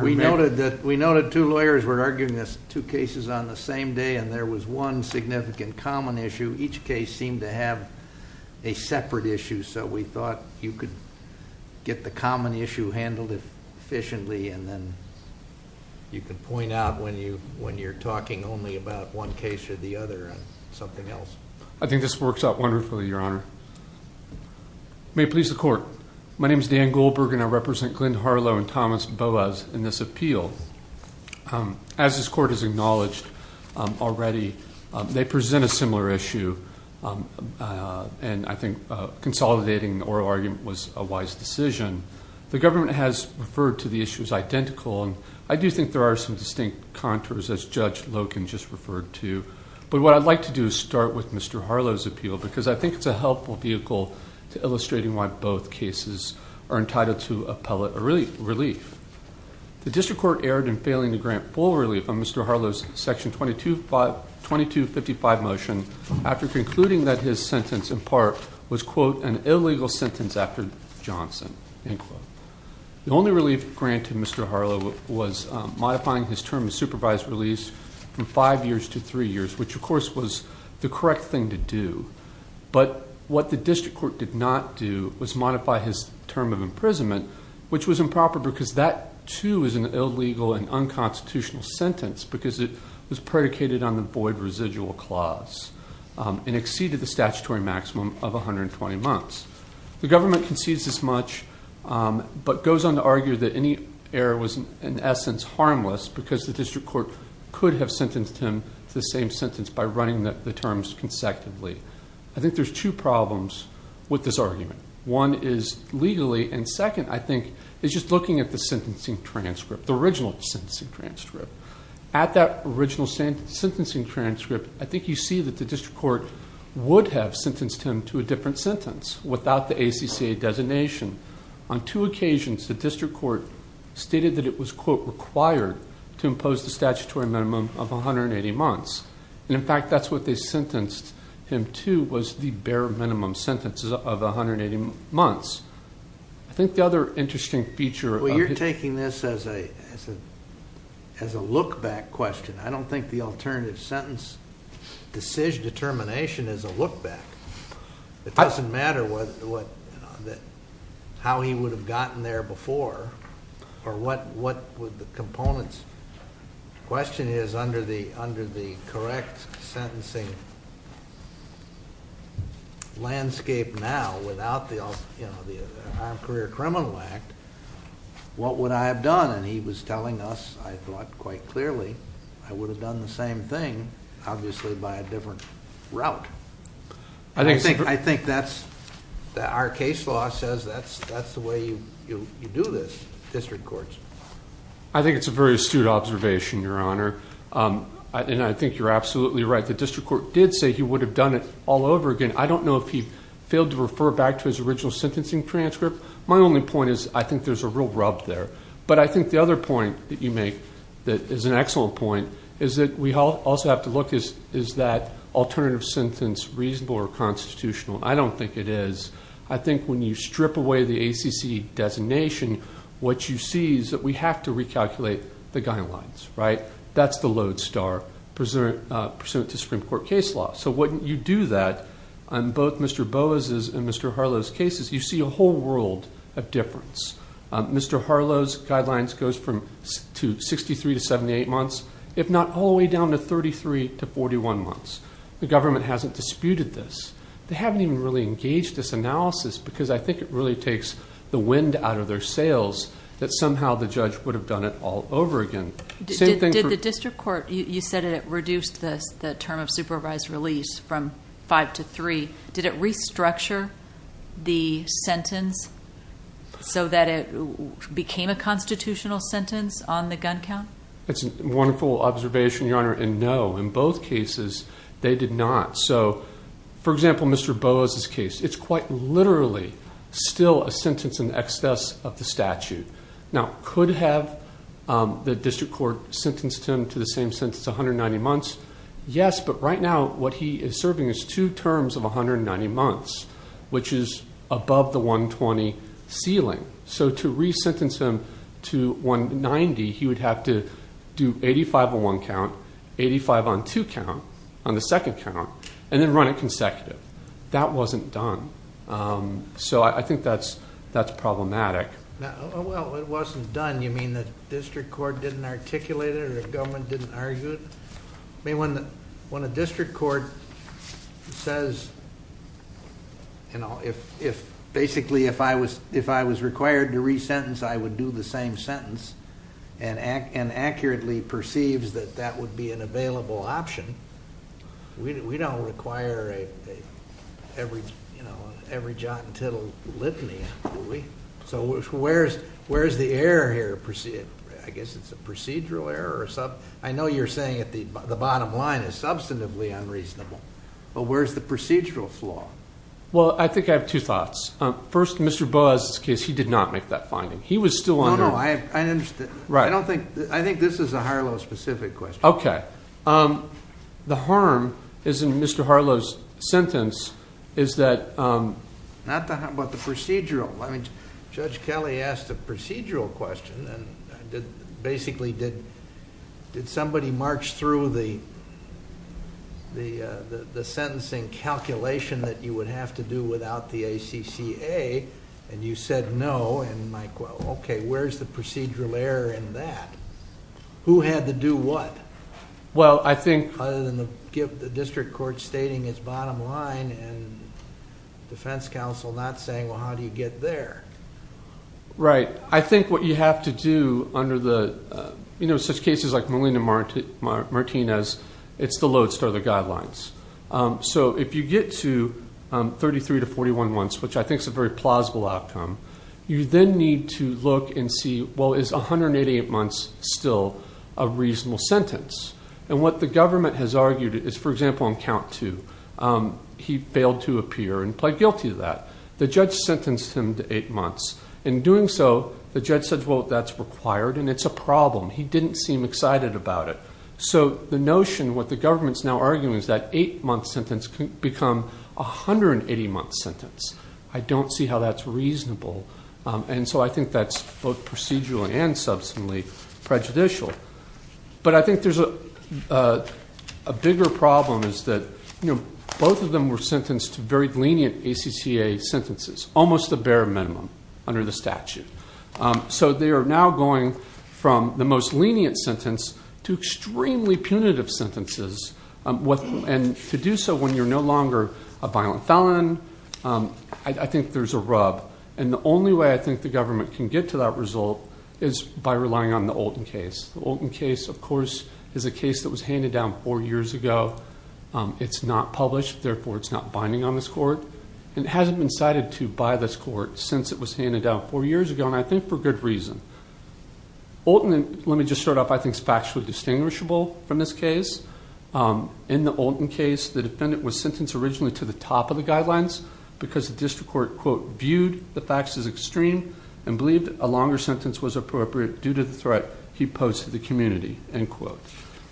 We noted that we noted two lawyers were arguing this two cases on the same day and there was one significant common issue each case seemed to have a separate issue so we thought you could get the common issue handled if efficiently and then you can point out when you when you're talking only about one case or the other something else I think this works out wonderfully your honor may please the court my name is Dan Goldberg and I represent Glenn Harlow and Thomas Boas in this appeal as this court has acknowledged already they present a similar issue and I think consolidating the oral argument was a wise decision the government has referred to the issues identical and I do think there are some distinct contours as judge Logan just referred to but what I'd like to do is start with mr. Harlow's appeal because I think it's a helpful vehicle to illustrating why both cases are entitled to appellate a relief the district court erred in failing to grant full relief on mr. Harlow's section 22 by 2255 motion after concluding that his sentence in part was quote an illegal sentence after Johnson the only relief granted mr. Harlow was modifying his term of supervised release from five years to three years which of course was the correct thing to do but what the because that too is an illegal and unconstitutional sentence because it was predicated on the void residual clause and exceeded the statutory maximum of 120 months the government concedes this much but goes on to argue that any error was an essence harmless because the district court could have sentenced him to the same sentence by running that the terms consecutively I think there's two looking at the sentencing transcript the original sensing transcript at that original sentencing transcript I think you see that the district court would have sentenced him to a different sentence without the ACCA designation on two occasions the district court stated that it was quote required to impose the statutory minimum of 180 months and in fact that's what they sentenced him to was the bare minimum sentences of 180 months I think the interesting feature well you're taking this as a as a as a look back question I don't think the alternative sentence decision determination is a look back it doesn't matter what how he would have gotten there before or what what would the components question is under the under the correct sentencing landscape now without the criminal act what would I have done and he was telling us I thought quite clearly I would have done the same thing obviously by a different route I think I think that's our case law says that's that's the way you do this district courts I think it's a very astute observation your honor and I think you're absolutely right the district court did say he would have done it all over again I don't know if he failed to refer back to his original sentencing transcript my only point is I think there's a real rub there but I think the other point that you make that is an excellent point is that we all also have to look is is that alternative sentence reasonable or constitutional I don't think it is I think when you strip away the ACC designation what you see is that we have to recalculate the guidelines right that's the lodestar pursuant to Supreme Court case law so wouldn't you do that I'm both mr. Boas is in mr. Harlow's cases you see a whole world of difference mr. Harlow's guidelines goes from to 63 to 78 months if not all the way down to 33 to 41 months the government hasn't disputed this they haven't even really engaged this analysis because I think it really takes the wind out of their sails that somehow the judge would have done it all over again the district court you said it reduced this the term of supervised release from five to three did it restructure the sentence so that it became a constitutional sentence on the gun count it's a wonderful observation your honor and no in both cases they did not so for example mr. Boas is case it's quite literally still a sentence in excess of the statute now could have the district court sentenced him to the same since it's 190 months yes but right now what he is serving is two terms of 190 months which is above the 120 ceiling so to re-sentence him to 190 he would have to do 85 on one count 85 on to count on the second count and then run it consecutive that wasn't done so I think that's that's problematic well it wasn't done you mean that district court didn't articulate it or government didn't argue it I mean when when a district court says you know if if basically if I was if I was required to re-sentence I would do the same sentence and act and accurately perceives that that would be an available option we don't require a every you know every jot and tittle litany do we so where's where's the error here proceed I guess it's a procedural error or something I know you're saying at the bottom line is substantively unreasonable but where's the procedural flaw well I think I have two thoughts first mr. buzzed case he did not make that finding he was still on no I understood right I don't think I think this is a Harlow specific question okay the harm is in mr. Harlow's sentence is that not the how about the did did somebody march through the the the sentencing calculation that you would have to do without the ACCA and you said no and Mike well okay where's the procedural error in that who had to do what well I think other than the gift the district court stating its bottom line and defense counsel not saying well how do you get there right I think what you have to do under the you know such cases like Molina Martin Martinez it's the lodestar the guidelines so if you get to 33 to 41 months which I think is a very plausible outcome you then need to look and see well is 188 months still a reasonable sentence and what the government has argued is for example on count to he failed to appear and pled guilty to that the judge sentenced him to eight months in doing so the judge said well that's required and it's a problem he didn't seem excited about it so the notion what the government's now arguing is that eight-month sentence can become a hundred and eighty month sentence I don't see how that's reasonable and so I think that's both procedural and substantially prejudicial but I think there's a bigger problem is that you know both of them were sentenced to very lenient ACCA sentences almost a bare minimum under the statute so they are now going from the most lenient sentence to extremely punitive sentences what and to do so when you're no longer a violent felon I think there's a rub and the only way I think the government can get to that result is by relying on the old in case the old in case of course is a case that was handed down four years ago it's not published therefore it's not binding on this court and it hasn't been cited to by this court since it was handed out four years ago and I think for good reason Alton and let me just start off I think it's factually distinguishable from this case in the old in case the defendant was sentenced originally to the top of the guidelines because the district court quote viewed the facts as extreme and believed a longer sentence was appropriate due to the threat he posed to the community and quote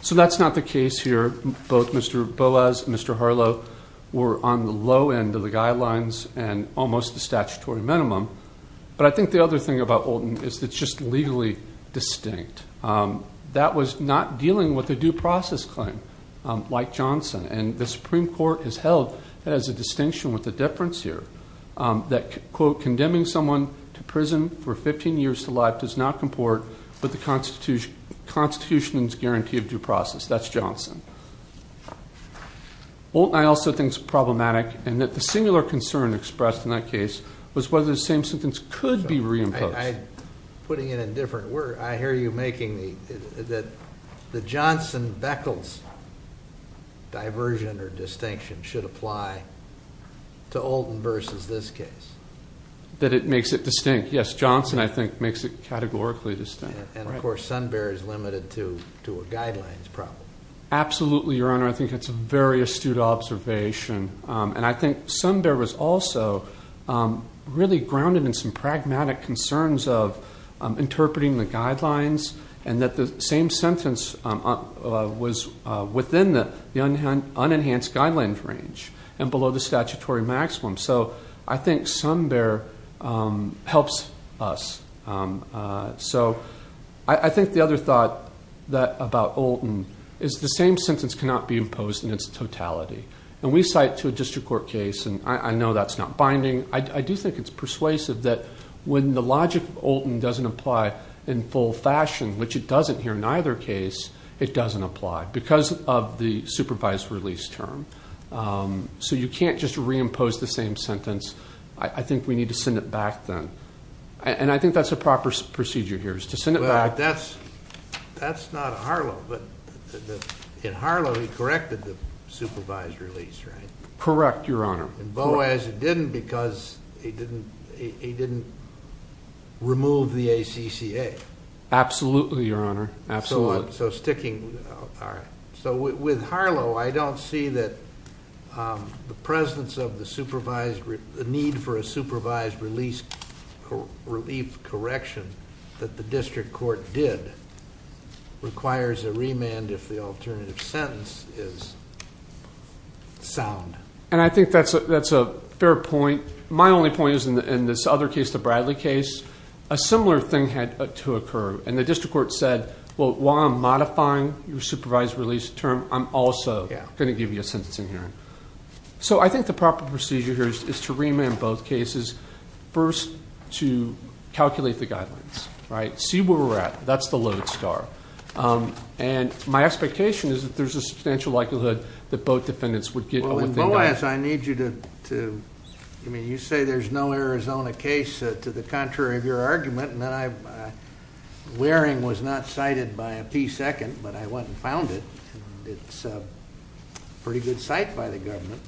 so that's not the case here both mr. Boaz mr. Harlow were on the low end of the guidelines and almost the statutory minimum but I think the other thing about olden is that's just legally distinct that was not dealing with a due process claim like Johnson and the Supreme Court has held that as a distinction with the difference here that quote condemning someone to prison for 15 years to life does not comport with the Constitution guarantee of due process that's Johnson well I also think it's problematic and that the singular concern expressed in that case was whether the same sentence could be reimposed putting it in different word I hear you making me that the Johnson Beckles diversion or distinction should apply to olden versus this case that it makes it distinct yes Johnson I think makes it categorically distinct and of course Sun Bear is limited to to a guidelines problem absolutely your honor I think it's a very astute observation and I think Sun Bear was also really grounded in some pragmatic concerns of interpreting the guidelines and that the same sentence was within the young hand unenhanced guidelines range and below the statutory maximum so I think Sun Bear helps us so I think the other thought that about olden is the same sentence cannot be imposed in its totality and we cite to a district court case and I know that's not binding I do think it's persuasive that when the logic olden doesn't apply in full fashion which it doesn't here in either case it doesn't apply because of the supervised release term so you can't just reimpose the same sentence I think we need to send it back then and I think that's a proper procedure here is to send it back that's that's not Harlow but in Harlow he corrected the supervised release right correct your honor and Boaz it didn't because he didn't he didn't remove the ACCA absolutely your honor absolutely so sticking all right so with Harlow I don't see that the presence of the the need for a supervised release relief correction that the district court did requires a remand if the alternative sentence is sound and I think that's a that's a fair point my only point is in this other case the Bradley case a similar thing had to occur and the district court said well while I'm modifying your supervised release term I'm also gonna give you a so I think the proper procedure here is to remand both cases first to calculate the guidelines right see where we're at that's the load star and my expectation is that there's a substantial likelihood that both defendants would get well as I need you to I mean you say there's no Arizona case to the contrary of your argument and then I wearing was not cited by a p-second but I wasn't found it it's a pretty good site by the government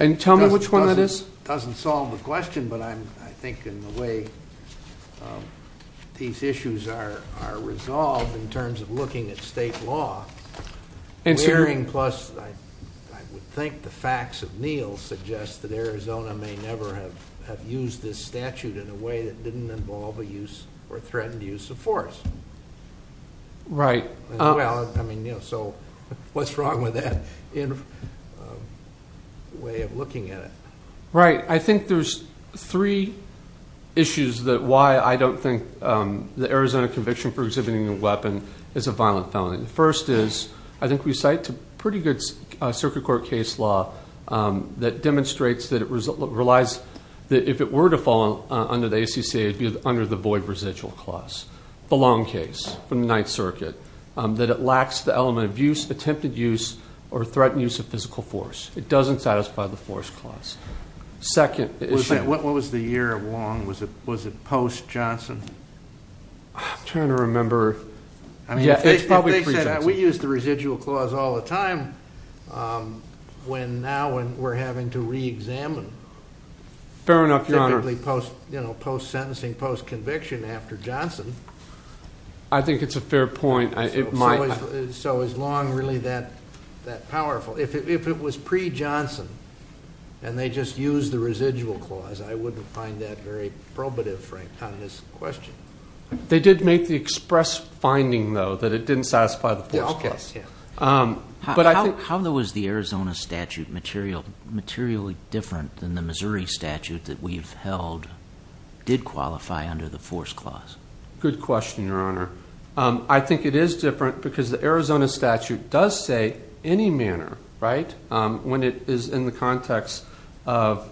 and tell me which one that is doesn't solve the question but I'm I think in the way these issues are are resolved in terms of looking at state law and sharing plus I would think the facts of Neal suggest that Arizona may never have used this statute in a way didn't involve a use or threatened use of force right I mean you know so what's wrong with that in way of looking at it right I think there's three issues that why I don't think the Arizona conviction for exhibiting a weapon is a violent felony the first is I think we cite two pretty good circuit court case law that the void residual clause the long case from the Ninth Circuit that it lacks the element of use attempted use or threatened use of physical force it doesn't satisfy the force clause second what was the year of long was it was it post Johnson trying to remember I mean yeah we use the residual clause all the time when now and we're having to reexamine fair enough your honor post you know post sentencing post conviction after Johnson I think it's a fair point I it might so as long really that that powerful if it was pre Johnson and they just use the residual clause I wouldn't find that very probative Frank on this question they did make the express finding though that it didn't satisfy the forecast yeah but I think how there the Arizona statute material materially different than the Missouri statute that we've held did qualify under the force clause good question your honor I think it is different because the Arizona statute does say any manner right when it is in the context of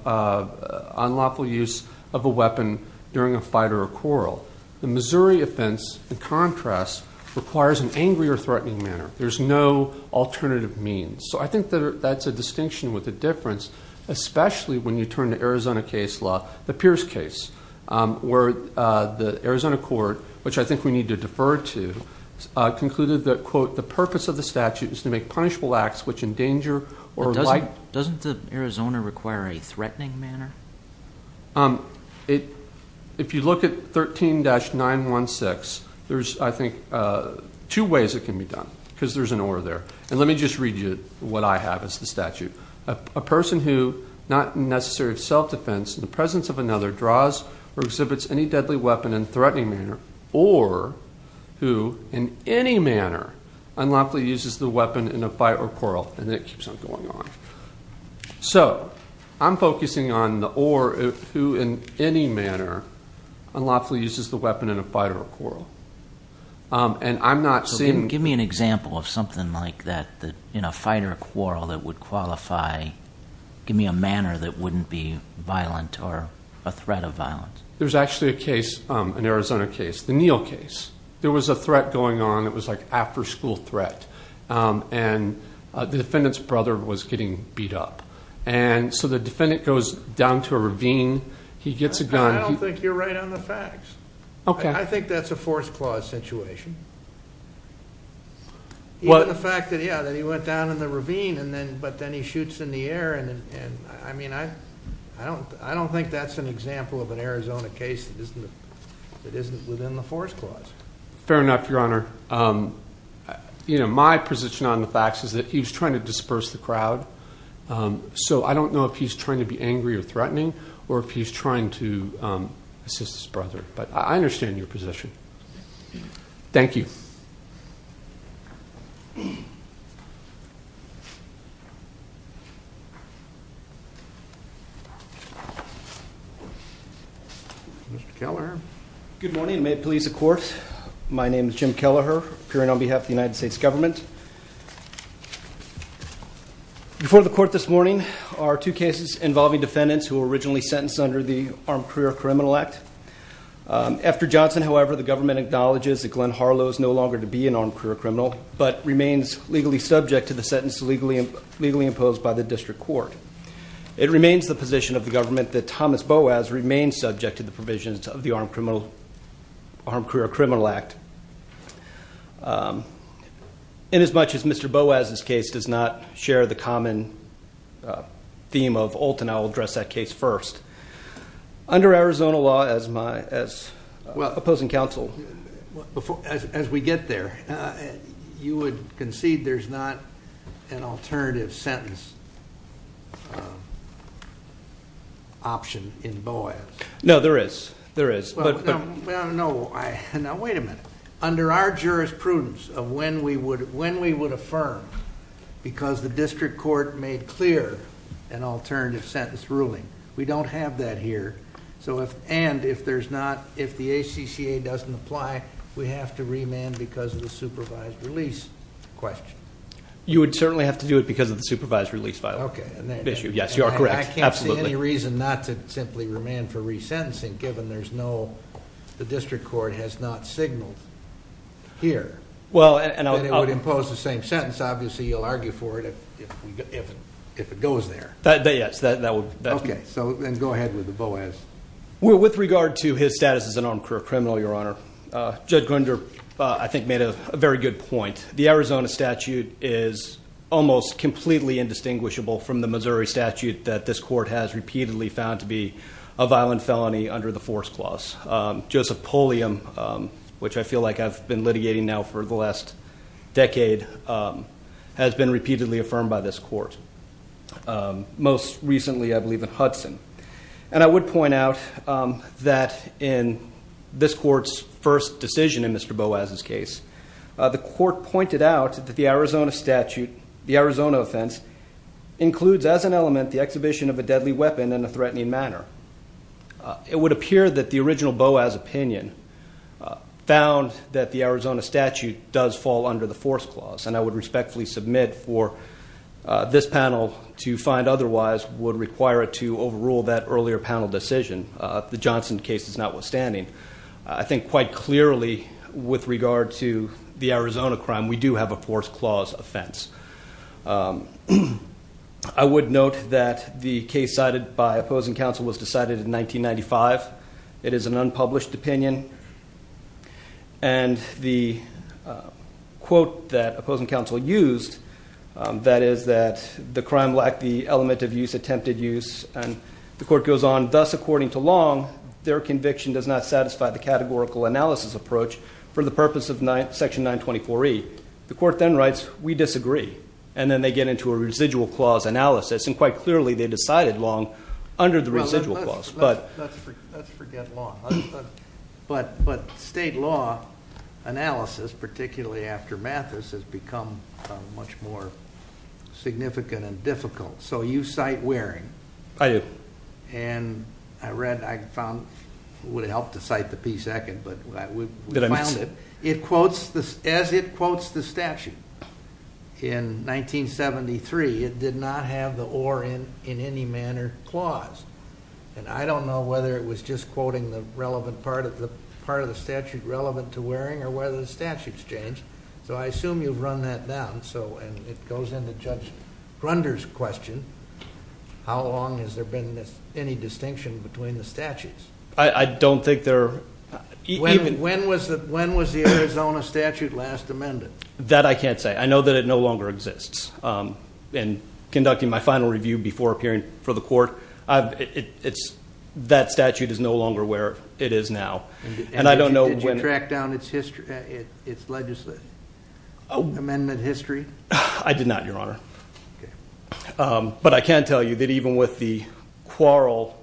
unlawful use of a weapon during a fight or a quarrel the Missouri offense the contrast requires an angry or threatening manner there's no alternative means so I think that that's a distinction with the difference especially when you turn to Arizona case law the Pierce case where the Arizona court which I think we need to defer to concluded that quote the purpose of the statute is to make punishable acts which endanger or does it doesn't the Arizona require a threatening manner um it if you look at 13-916 there's I think two ways it can be done because there's an order there and let me just read you what I have is the statute a person who not necessary self-defense in the presence of another draws or exhibits any deadly weapon and threatening manner or who in any manner unlawfully uses the weapon in a fight or quarrel and it keeps on going on so I'm focusing on the or who in any manner unlawfully uses the give me an example of something like that that in a fight or quarrel that would qualify give me a manner that wouldn't be violent or a threat of violence there's actually a case an Arizona case the Neal case there was a threat going on it was like after-school threat and the defendant's brother was getting beat up and so the defendant goes down to a ravine he gets a gun okay I think that's a force clause situation well the fact that yeah that he went down in the ravine and then but then he shoots in the air and I mean I I don't I don't think that's an example of an Arizona case it isn't within the force clause fair enough your honor you know my position on the facts is that he's trying to disperse the crowd so I don't know if he's trying to be angry or in your possession thank you Mr. Kelleher good morning may it please the court my name is Jim Kelleher appearing on behalf of the United States government before the court this morning our two cases involving defendants who were originally sentenced under the armed however the government acknowledges that Glenn Harlow is no longer to be an armed career criminal but remains legally subject to the sentence to legally legally imposed by the district court it remains the position of the government that Thomas Boaz remains subject to the provisions of the armed criminal armed career criminal act in as much as mr. Boaz this case does not share the common theme of Olten I'll address that case first under Arizona law as my as well opposing counsel as we get there you would concede there's not an alternative sentence option in Boaz no there is there is but no I know wait a minute under our jurisprudence of when we would when we would affirm because the district court made clear an alternative sentence ruling we don't have that here so if and if there's not if the ACCA doesn't apply we have to remand because of the supervised release question you would certainly have to do it because of the supervised release file okay and then issue yes you are correct I can't see any reason not to simply remand for resentencing given there's no the district court has not signaled here well and I would impose the same sentence obviously you'll argue for it if it goes there that day yes that that would okay so then go ahead with the Boaz well with regard to his status as an armed career criminal your honor judge Grinder I think made a very good point the Arizona statute is almost completely indistinguishable from the Missouri statute that this court has repeatedly found to be a violent felony under the force clause Joseph Pulliam which I feel like I've been litigating now for the last decade has been repeatedly affirmed by this court most recently I believe in Hudson and I would point out that in this court's first decision in mr. Boaz's case the court pointed out that the Arizona statute the Arizona offense includes as an element the exhibition of a deadly weapon in a threatening manner it would appear that the original Boaz opinion found that the statute does fall under the force clause and I would respectfully submit for this panel to find otherwise would require it to overrule that earlier panel decision the Johnson case is notwithstanding I think quite clearly with regard to the Arizona crime we do have a force clause offense I would note that the case cited by opposing counsel was decided in 1995 it is an unpublished opinion and the quote that opposing counsel used that is that the crime lacked the element of use attempted use and the court goes on thus according to long their conviction does not satisfy the categorical analysis approach for the purpose of night section 924 e the court then writes we disagree and then they get into a residual clause analysis and quite clearly they decided long under but but but state law analysis particularly after Mathis has become much more significant and difficult so you cite wearing I did and I read I found would help to cite the p-second but it quotes this as it quotes the and I don't know whether it was just quoting the relevant part of the part of the statute relevant to wearing or whether the statutes change so I assume you've run that down so and it goes into judge Runder's question how long has there been this any distinction between the statutes I don't think there even when was that when was the Arizona statute last amended that I can't say I know that it no longer exists and conducting my final review before appearing for the court I've it's that statute is no longer where it is now and I don't know when you track down its history it's legislative Oh amendment history I did not your honor but I can't tell you that even with the quarrel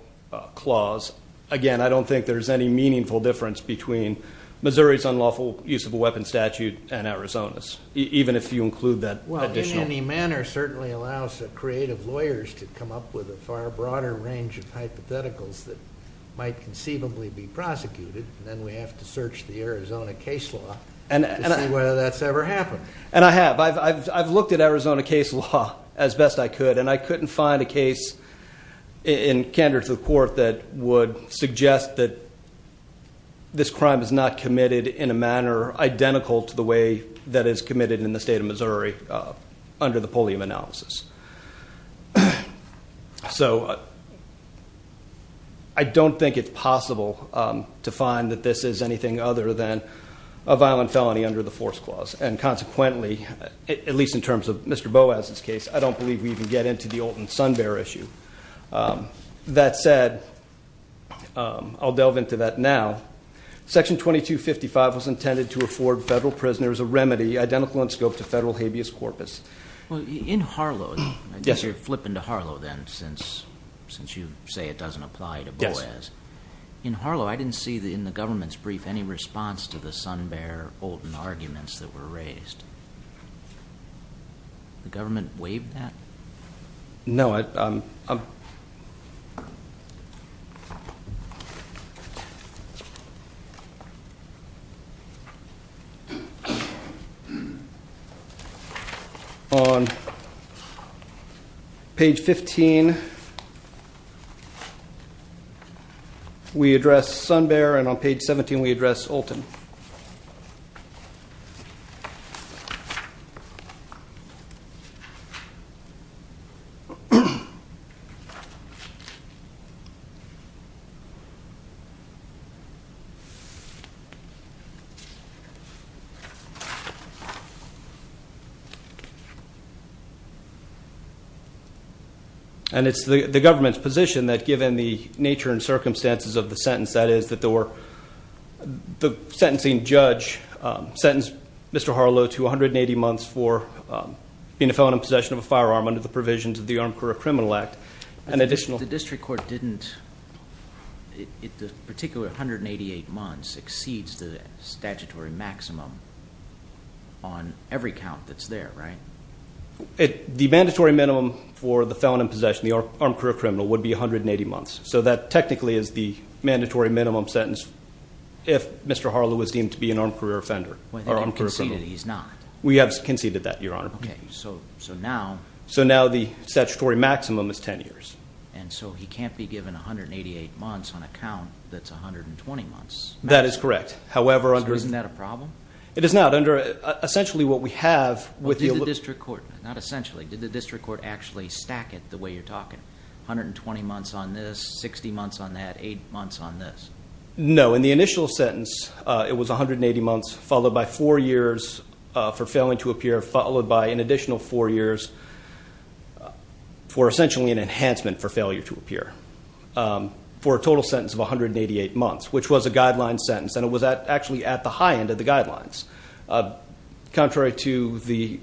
clause again I don't think there's any meaningful difference between Missouri's unlawful use of a weapon statute and Arizona's even if you include that well certainly allows the creative lawyers to come up with a far broader range of hypotheticals that might conceivably be prosecuted and then we have to search the Arizona case law and whether that's ever happened and I have I've looked at Arizona case law as best I could and I couldn't find a case in candor to the court that would suggest that this crime is not committed in a manner identical to the way that is committed in the state of Missouri under the polio analysis so I don't think it's possible to find that this is anything other than a violent felony under the force clause and consequently at least in terms of mr. bow as its case I don't believe we even get into the old and Sun Bear issue that said I'll delve into that now section 2255 was intended to afford federal prisoners a remedy identical in scope to federal habeas corpus well in Harlow yes you're flipping to Harlow then since since you say it doesn't apply to boys in Harlow I didn't see the in the government's brief any response to the Sun Bear old and arguments that were raised the government waived that no I on page 15 we address Sun Bear and on page 17 we address Olton and it's the government's position that given the nature and circumstances of the sentence that is that there were the sentencing judge sentenced mr. Harlow to 180 months for being a felon in possession of a firearm under the provisions of the Armed Career Criminal Act an additional district court didn't if the particular hundred and eighty-eight months exceeds the statutory maximum on every count that's there right it the mandatory minimum for the felon in possession the armed career criminal would be a hundred and eighty months so that technically is the mandatory minimum sentence if mr. Harlow was deemed to be an armed career offender he's not we have conceded that your honor okay so so now so now the statutory maximum is ten years and so he that's a hundred and twenty months that is correct however under isn't that a problem it is not under essentially what we have with the district court not essentially did the district court actually stack it the way you're talking 120 months on this 60 months on that eight months on this no in the initial sentence it was a hundred and eighty months followed by four years for failing to appear followed by an additional four years for essentially an to appear for a total sentence of a hundred and eighty-eight months which was a guideline sentence and it was that actually at the high end of the guidelines contrary to the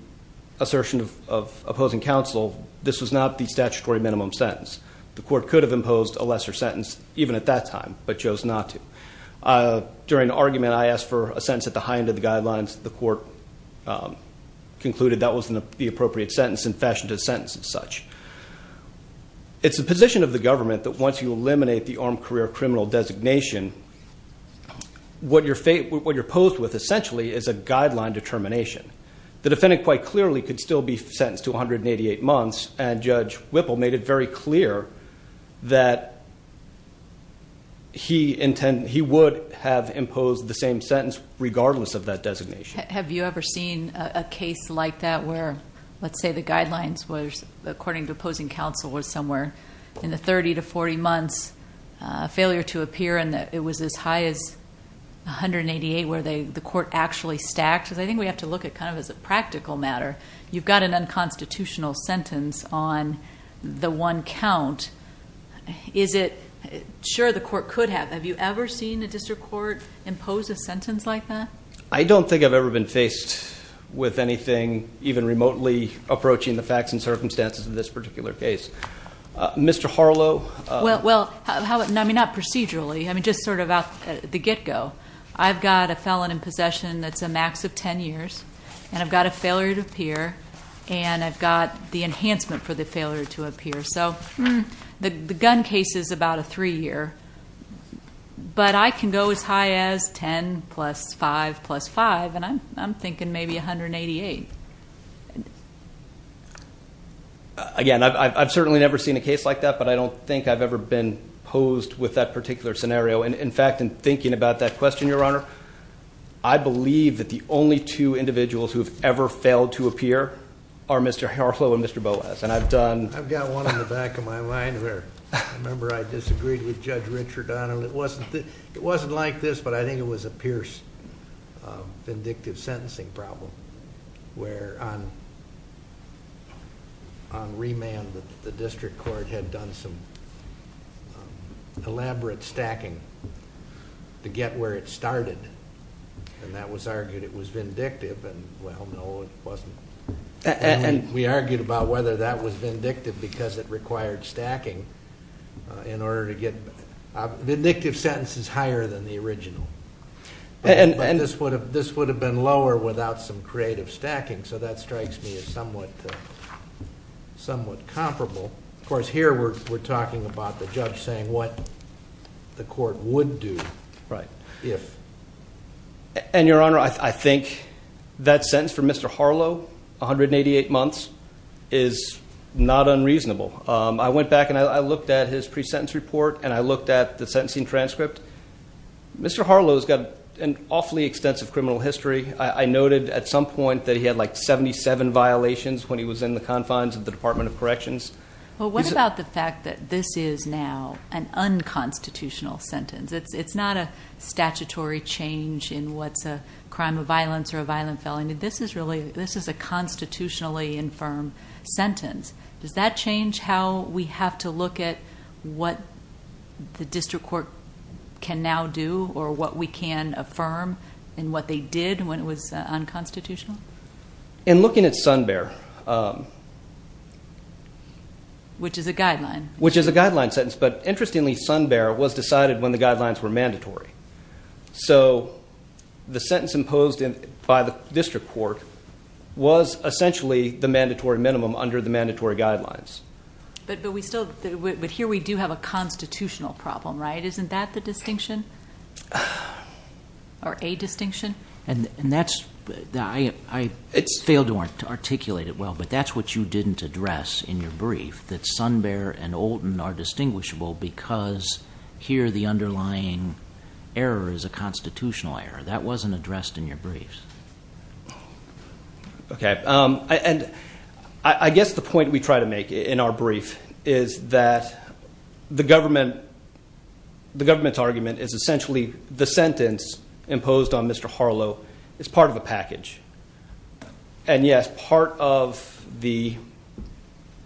assertion of opposing counsel this was not the statutory minimum sentence the court could have imposed a lesser sentence even at that time but chose not to during the argument I asked for a sentence at the high end of the guidelines the court concluded that was the appropriate sentence and fashion to sentence as such it's a position of the government that once you eliminate the armed career criminal designation what your fate what you're posed with essentially is a guideline determination the defendant quite clearly could still be sentenced to 188 months and judge Whipple made it very clear that he intended he would have imposed the same sentence regardless of that designation have you ever seen a case like that where let's say the guidelines was according to opposing counsel was somewhere in the 30 to 40 months failure to appear and that it was as high as a hundred eighty-eight where they the court actually stacked I think we have to look at kind of as a practical matter you've got an unconstitutional sentence on the one count is it sure the court could have have you ever seen a district court impose a sentence like that I don't think I've ever been faced with anything even remotely approaching the facts and circumstances of this particular case mr. Harlow well well I mean not procedurally I mean just sort of out the get-go I've got a felon in possession that's a max of ten years and I've got a failure to appear and I've got the enhancement for the failure to appear so the gun case is about a three-year but I can go as high as ten plus five plus five and I'm thinking maybe 188 again I've certainly never seen a case like that but I don't think I've ever been posed with that particular scenario and in fact in thinking about that question your honor I believe that the only two individuals who have ever failed to appear are mr. Harlow and mr. Boaz and I've done I've got one in the back of my mind where remember I disagreed with judge Richard on him it wasn't it wasn't like this but I think it was a Pierce vindictive sentencing problem where on on remand that the district court had done some elaborate stacking to get where it started and that was argued it was vindictive and well no it wasn't and we argued about whether that was vindictive because it required stacking in order to vindictive sentence is higher than the original and and this would have this would have been lower without some creative stacking so that strikes me as somewhat somewhat comparable of course here we're talking about the judge saying what the court would do right if and your honor I think that sentence for mr. Harlow 188 months is not unreasonable I went back and I looked at his pre-sentence report and I looked at the sentencing transcript mr. Harlow's got an awfully extensive criminal history I noted at some point that he had like 77 violations when he was in the confines of the Department of Corrections well what about the fact that this is now an unconstitutional sentence it's it's not a statutory change in what's a crime of violence or a violent felony this is really this is a constitutionally infirm sentence does that change how we have to look at what the district court can now do or what we can affirm and what they did when it was unconstitutional in looking at Sun Bear which is a guideline which is a guideline sentence but interestingly Sun Bear was decided when the guidelines were mandatory so the sentence imposed in by the district court was essentially the mandatory minimum under the but we still but here we do have a constitutional problem right isn't that the distinction or a distinction and and that's I it's failed to articulate it well but that's what you didn't address in your brief that Sun Bear and old and are distinguishable because here the underlying error is a constitutional error that wasn't addressed in your briefs okay and I guess the point we try to make in our brief is that the government the government's argument is essentially the sentence imposed on Mr. Harlow is part of the package and yes part of the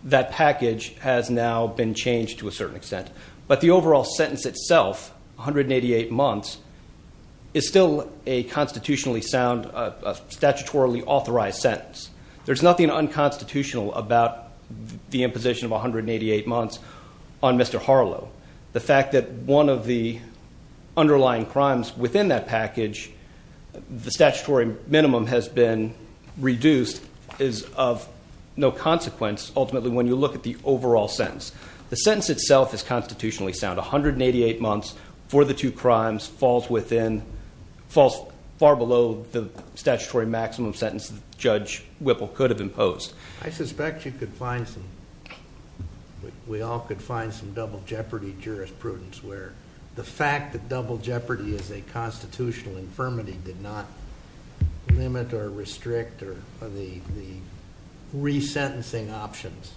that package has now been changed to a certain extent but the overall sentence itself 188 months is still a constitutionally sound statutorily authorized sentence there's nothing unconstitutional about the imposition of 188 months on Mr. Harlow the fact that one of the underlying crimes within that package the statutory minimum has been reduced is of no consequence ultimately when you look at the overall sentence the sentence itself is constitutionally sound 188 months for the two crimes falls within falls far the statutory maximum sentence judge Whipple could have imposed I suspect you could find some we all could find some double jeopardy jurisprudence where the fact that double jeopardy is a constitutional infirmity did not limit or restrict or the resentencing options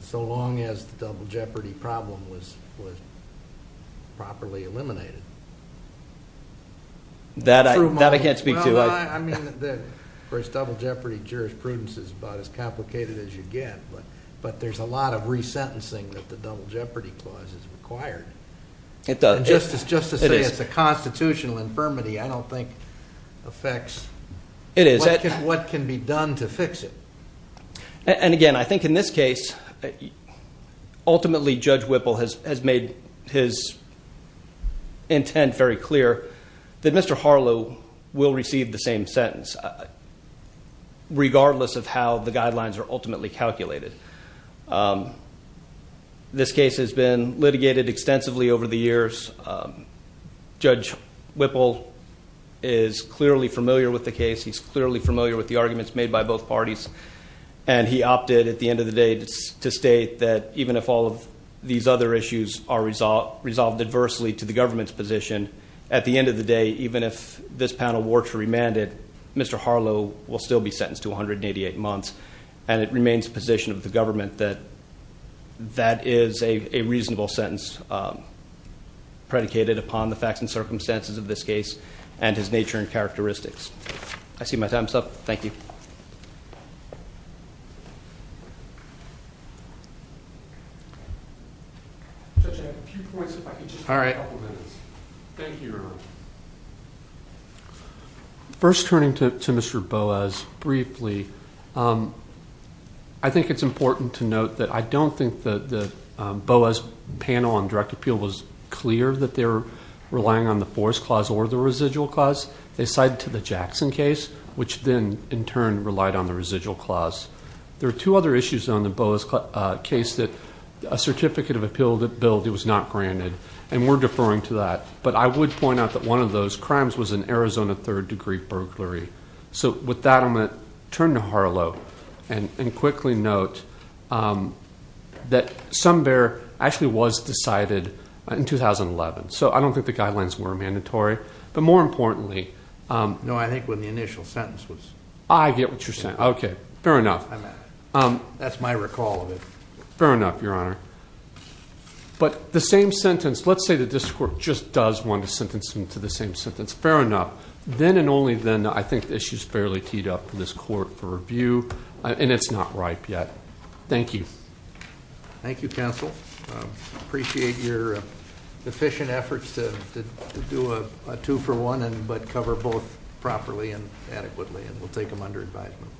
so long as the double jeopardy problem was was properly eliminated that I can't speak to I mean first double jeopardy jurisprudence is about as complicated as you get but but there's a lot of resentencing that the double jeopardy clause is required it does justice justice it is a constitutional infirmity I don't think affects it is that what can be done to fix it and again I think in this case ultimately judge Whipple has made his intent very clear that mr. Harlow will receive the same sentence regardless of how the guidelines are ultimately calculated this case has been litigated extensively over the years judge Whipple is clearly familiar with the case he's clearly familiar with the arguments made by both these other issues are resolved resolved adversely to the government's position at the end of the day even if this panel were to remanded mr. Harlow will still be sentenced to 188 months and it remains position of the government that that is a reasonable sentence predicated upon the facts and circumstances of this case and his nature and characteristics I see my first turning to mr. Boas briefly I think it's important to note that I don't think that the Boas panel on direct appeal was clear that they're relying on the force clause or the residual cause they cited to the Jackson case which then in turn relied on the residual clause there are two other issues on the Boas case that a certificate of appeal that billed it was not granted and we're deferring to that but I would point out that one of those crimes was an Arizona third-degree burglary so with that I'm going to turn to Harlow and quickly note that some bear actually was decided in 2011 so I don't think the guidelines were mandatory but more importantly no I think when the initial sentence was I get what you're saying okay fair enough um that's my recall of it fair enough your honor but the same sentence let's say that this court just does want to sentence him to the same sentence fair enough then and only then I think this is fairly teed up in this court for review and it's not ripe yet thank you thank you counsel appreciate your efficient efforts to do a two-for-one and but cover both properly and adequately and we'll take them under advisement